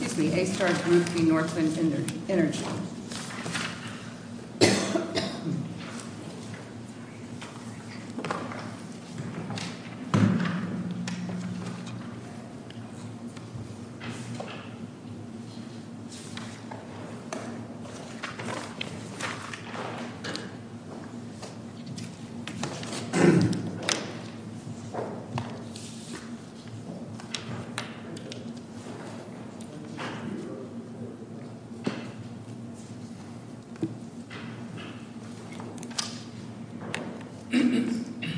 A Star Group v. Northland Energy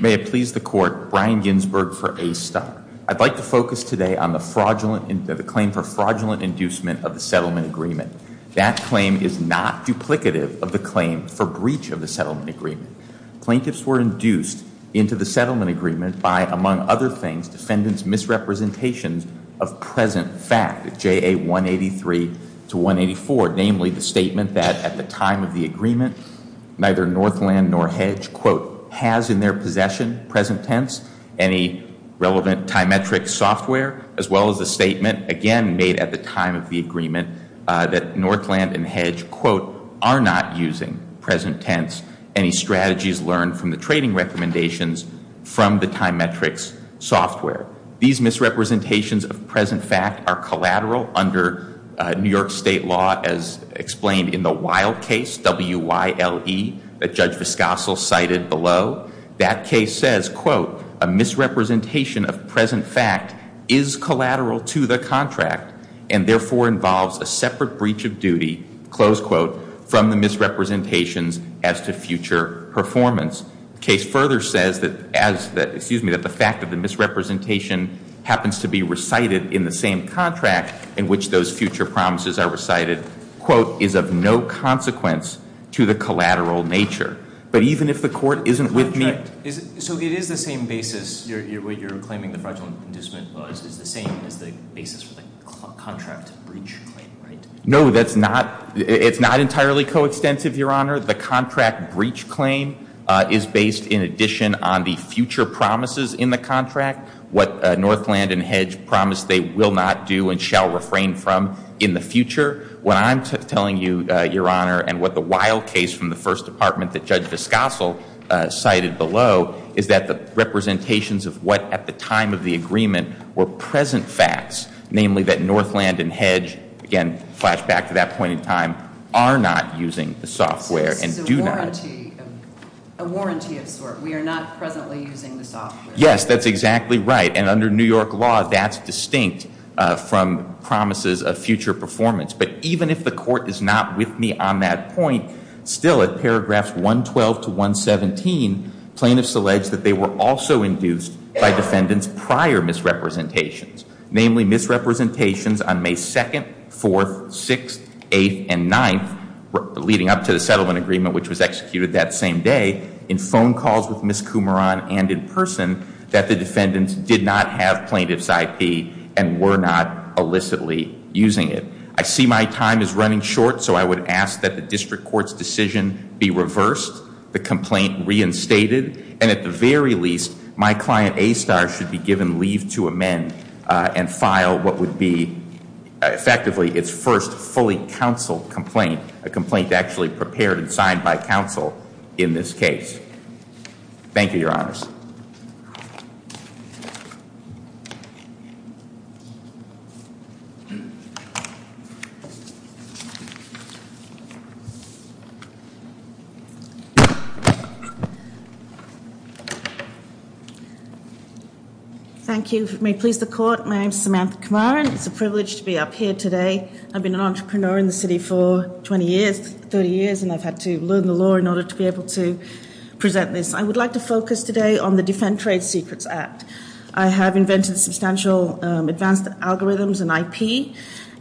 May it please the court, Brian Ginsburg for A Star. I'd like to focus today on the fraudulent, the claim for fraudulent inducement of the settlement agreement. That claim is not duplicative of the claim for breach of the settlement agreement. Plaintiffs were induced into the settlement agreement by, among other things, defendant's representations of present fact, JA 183 to 184, namely the statement that at the time of the agreement, neither Northland nor Hedge, quote, has in their possession, present tense, any relevant Time Metrics software, as well as the statement, again, made at the time of the agreement, that Northland and Hedge, quote, are not using, present tense, any strategies learned from the trading recommendations from the Time Metrics software. These misrepresentations of present fact are collateral under New York State law, as explained in the wild case, WYLE, that Judge Viscasso cited below. That case says, quote, a misrepresentation of present fact is collateral to the contract and therefore involves a separate breach of duty, close quote, from the misrepresentations as to future performance. The case further says that as the, excuse me, that the fact that the misrepresentation happens to be recited in the same contract in which those future promises are recited, quote, is of no consequence to the collateral nature. But even if the court isn't with me. Is it, so it is the same basis you're, you're, you're claiming the fraudulent indiscipline clause is the same as the basis for the contract breach claim, right? No, that's not, it's not entirely coextensive, Your Honor. The contract breach claim is based in addition on the future promises in the contract. What Northland and Hedge promised they will not do and shall refrain from in the future. What I'm telling you, Your Honor, and what the WYLE case from the First Department that Judge Viscasso cited below is that the representations of what at the time of the agreement were present facts, namely that Northland and Hedge, again, flashback to that point in time, are not using the software and do not. This is a warranty, a warranty of sort. We are not presently using the software. Yes, that's exactly right. And under New York law, that's distinct from promises of future performance. But even if the court is not with me on that point, still at paragraphs 112 to 117, plaintiffs allege that they were also induced by defendants prior misrepresentations. Namely, misrepresentations on May 2nd, 4th, 6th, 8th, and 9th, leading up to the settlement agreement which was executed that same day, in phone calls with Ms. Coumaron and in person, that the defendants did not have plaintiff's IP and were not illicitly using it. I see my time is running short, so I would ask that the district court's decision be reversed, the complaint reinstated, and at the very least, my client ASTAR should be given leave to amend and file what would be effectively its first fully counsel complaint. A complaint actually prepared and signed by counsel in this case. Thank you, your honors. Thank you, may it please the court, my name is Samantha Coumaron, it's a privilege to be up here today. I've been an entrepreneur in the city for 20 years, 30 years, and I've had to learn the law in order to be able to present this. I would like to focus today on the Defend Trade Secrets Act. I have invented substantial advanced algorithms in IP,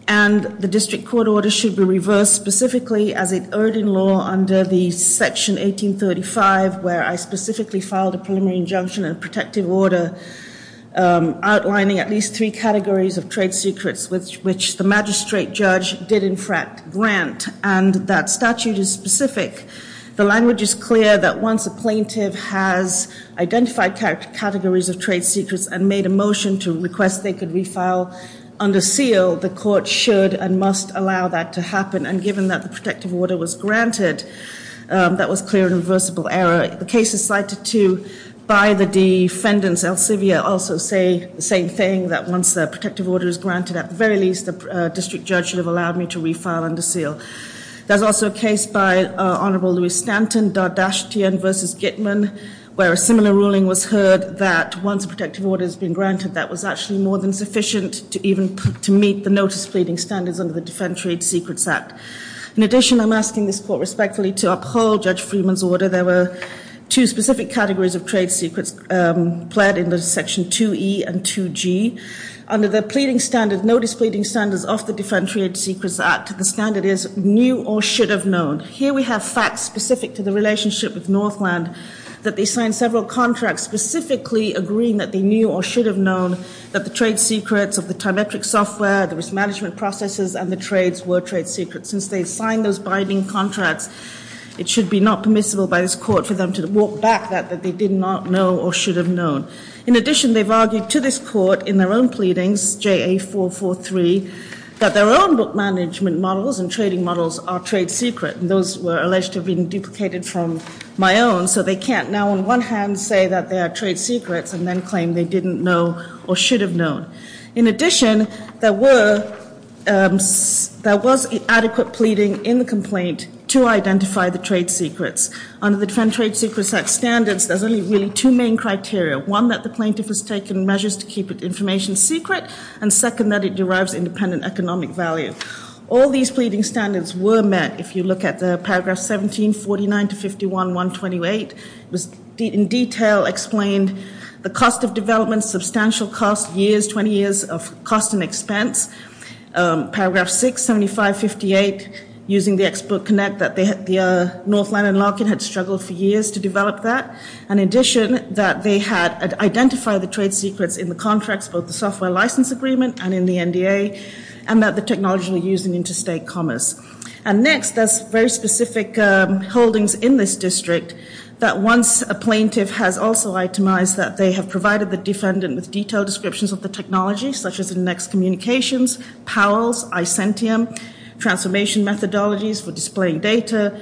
and the district court order should be reversed specifically as it erred in law under the section 1835, where I specifically filed a preliminary injunction and protective order outlining at least three categories of trade secrets, which the magistrate judge did in fact grant, and that statute is specific. The language is clear that once a plaintiff has identified categories of trade secrets and made a motion to request they could refile under seal, the court should and must allow that to happen. And given that the protective order was granted, that was clear and reversible error. The cases cited to by the defendants also say the same thing, that once a protective order is granted, at the very least, a district judge should have allowed me to refile under seal. There's also a case by Honorable Louis Stanton, Dardashtian versus Gitman, where a similar ruling was heard that once a protective order has been granted, that was actually more than sufficient to meet the notice pleading standards under the Defend Trade Secrets Act. In addition, I'm asking this court respectfully to uphold Judge Freeman's order. There were two specific categories of trade secrets pled in the section 2E and 2G. Under the notice pleading standards of the Defend Trade Secrets Act, the standard is knew or should have known. Here we have facts specific to the relationship with Northland that they signed several contracts specifically agreeing that they knew or should have known, because of the telemetric software, the risk management processes, and the trades were trade secrets. Since they signed those binding contracts, it should be not permissible by this court for them to walk back that they did not know or should have known. In addition, they've argued to this court in their own pleadings, JA443, that their own book management models and trading models are trade secret. And those were alleged to have been duplicated from my own, so they can't now on one hand say that they are trade secrets and then claim they didn't know or should have known. In addition, there was adequate pleading in the complaint to identify the trade secrets. Under the Defend Trade Secrets Act standards, there's only really two main criteria. One, that the plaintiff has taken measures to keep information secret. And second, that it derives independent economic value. All these pleading standards were met. If you look at the paragraph 1749-51-128, it was in detail explained the cost of development, substantial cost, years, 20 years of cost and expense. Paragraph 675-58, using the export connect, that the Northland and Larkin had struggled for years to develop that. And in addition, that they had identified the trade secrets in the contracts, both the software license agreement and in the NDA. And that the technology were used in interstate commerce. And next, there's very specific holdings in this district that once a plaintiff has also itemized that they have provided the defendant with detailed descriptions of the technology, such as the next communications, Powell's, Isentium, transformation methodologies for displaying data,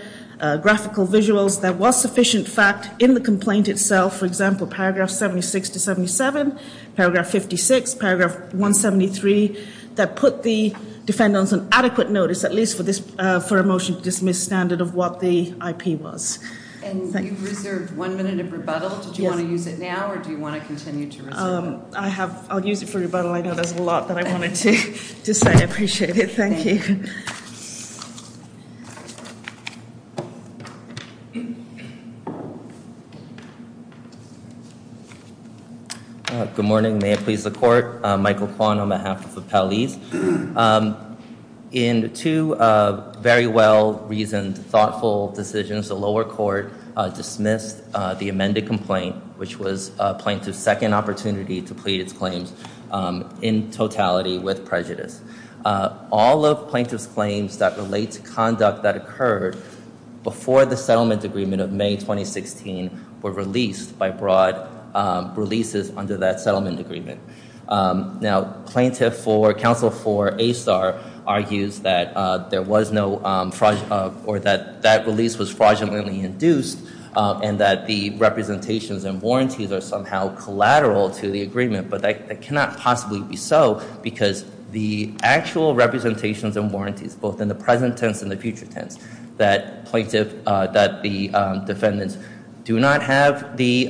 graphical visuals, that was sufficient fact in the complaint itself. For example, paragraph 76 to 77, paragraph 56, paragraph 173, that put the defendants on adequate notice, at least for a motion to dismiss standard of what the IP was. And you've reserved one minute of rebuttal. Did you want to use it now, or do you want to continue to reserve it? I'll use it for rebuttal. I know there's a lot that I wanted to say, I appreciate it. Good morning, may it please the court. Michael Kwan on behalf of the Powellese. In two very well reasoned, thoughtful decisions, the lower court dismissed the amended complaint, which was plaintiff's second opportunity to plead its claims in totality with prejudice. All of plaintiff's claims that relate to conduct that occurred before the settlement agreement of May 2016 were released by broad releases under that settlement agreement. Now, plaintiff for counsel for ASTAR argues that there was no fraud, or that that release was fraudulently induced, and that the representations and warranties are somehow collateral to the agreement, but that cannot possibly be so. Because the actual representations and warranties, both in the present tense and the future tense, that the defendants do not have the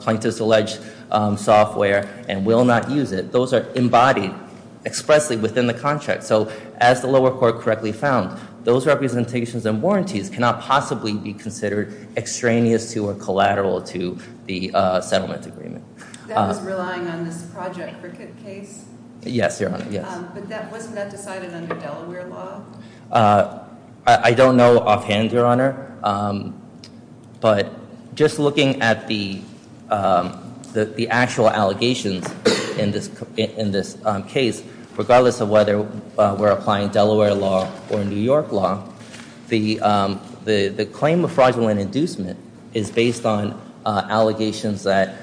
plaintiff's alleged software and will not use it. Those are embodied expressly within the contract. So, as the lower court correctly found, those representations and warranties cannot possibly be considered extraneous to or collateral to the settlement agreement. That was relying on this Project Cricket case? Yes, Your Honor, yes. But wasn't that decided under Delaware law? I don't know offhand, Your Honor. But just looking at the actual allegations in this case, regardless of whether we're applying Delaware law or New York law, the claim of fraudulent inducement is based on allegations that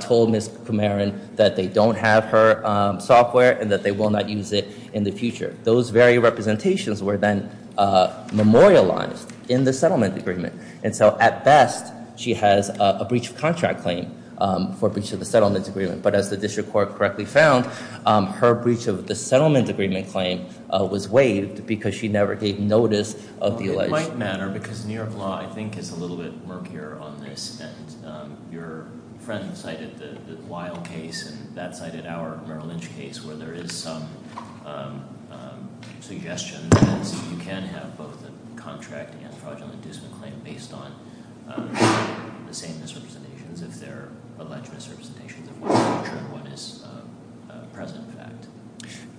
told Ms. Kumaran that they don't have her software and that they will not use it in the future. Those very representations were then memorialized in the settlement agreement. And so, at best, she has a breach of contract claim for breach of the settlement agreement. But as the district court correctly found, her breach of the settlement agreement claim was waived because she never gave notice of the alleged- In a polite manner, because New York law, I think, is a little bit murkier on this, and your friend cited the Weil case, and that cited our Merrill Lynch case, where there is some suggestion that you can have both a contract and fraudulent inducement claim based on the same misrepresentations if they're alleged misrepresentations of what is present in fact.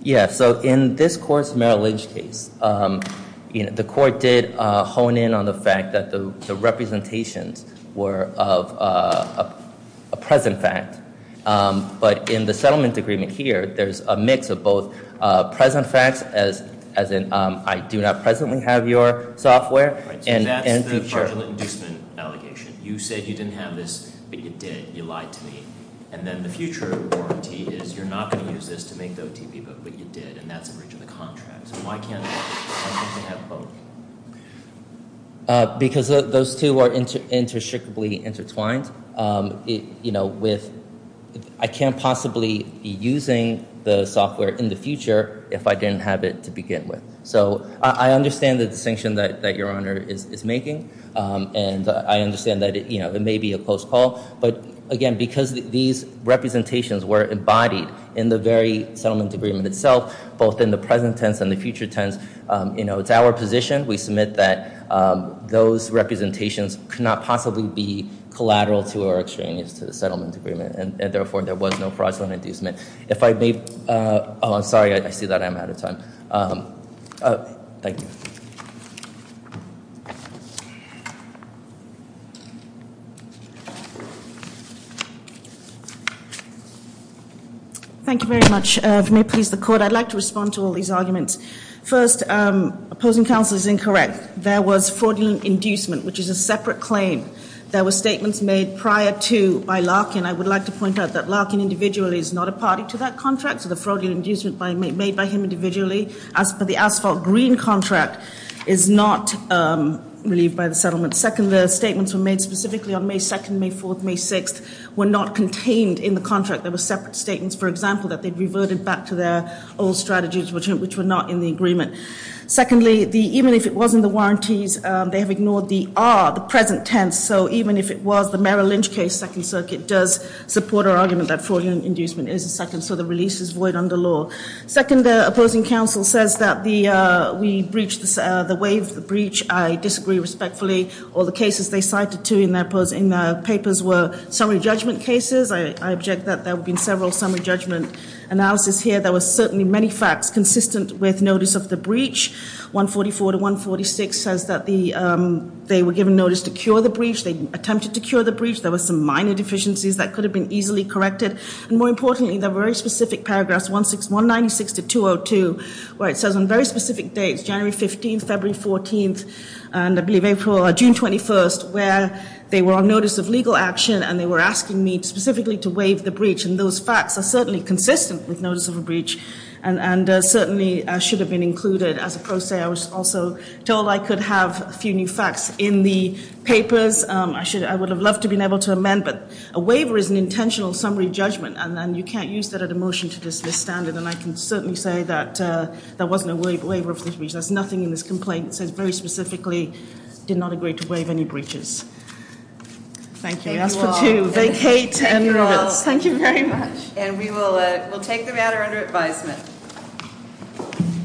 Yeah, so in this court's Merrill Lynch case, the court did hone in on the fact that the representations were of a present fact. But in the settlement agreement here, there's a mix of both present facts, as in I do not presently have your software, and future- So that's the fraudulent inducement allegation. You said you didn't have this, but you did, you lied to me. And then the future warranty is you're not going to use this to make the OTP book, but you did, and that's a breach of the contract. So why can't I have both? Because those two are interstricably intertwined. I can't possibly be using the software in the future if I didn't have it to begin with. So I understand the distinction that your honor is making, and I understand that it may be a close call. But again, because these representations were embodied in the very settlement agreement itself, both in the present tense and the future tense, it's our position, we submit that those representations could not possibly be collateral to our exchanges to the settlement agreement. And therefore, there was no fraudulent inducement. If I may, I'm sorry, I see that I'm out of time. Thank you. Thank you very much. If you may please the court, I'd like to respond to all these arguments. First, opposing counsel is incorrect. There was fraudulent inducement, which is a separate claim. There were statements made prior to by Larkin. I would like to point out that Larkin individually is not a party to that contract, so the fraudulent inducement made by him individually, as per the asphalt green contract, is not relieved by the settlement. Second, the statements were made specifically on May 2nd, May 4th, May 6th, were not contained in the contract. There were separate statements, for example, that they'd reverted back to their old strategies, which were not in the agreement. Secondly, even if it was in the warranties, they have ignored the R, the present tense. So even if it was the Merrill Lynch case, Second Circuit does support our argument that fraudulent inducement is a second, so the release is void under law. Second, opposing counsel says that we breached the way of the breach. I disagree respectfully. All the cases they cited to in their papers were summary judgment cases. I object that there would have been several summary judgment analysis here. There were certainly many facts consistent with notice of the breach. 144 to 146 says that they were given notice to cure the breach. They attempted to cure the breach. There were some minor deficiencies that could have been easily corrected. And more importantly, there were very specific paragraphs 196 to 202, where it says on very specific dates, January 15th, February 14th, and I believe April, June 21st, where they were on notice of legal action. And they were asking me specifically to waive the breach. And those facts are certainly consistent with notice of a breach, and certainly should have been included. As a pro se, I was also told I could have a few new facts in the papers. I would have loved to have been able to amend, but a waiver is an intentional summary judgment, and then you can't use that at a motion to dismiss standard. And I can certainly say that there wasn't a waiver of this breach. There's nothing in this complaint that says very specifically, did not agree to waive any breaches. Thank you, I ask for two, vacate and move it. Thank you very much. And we will take the matter under advisement.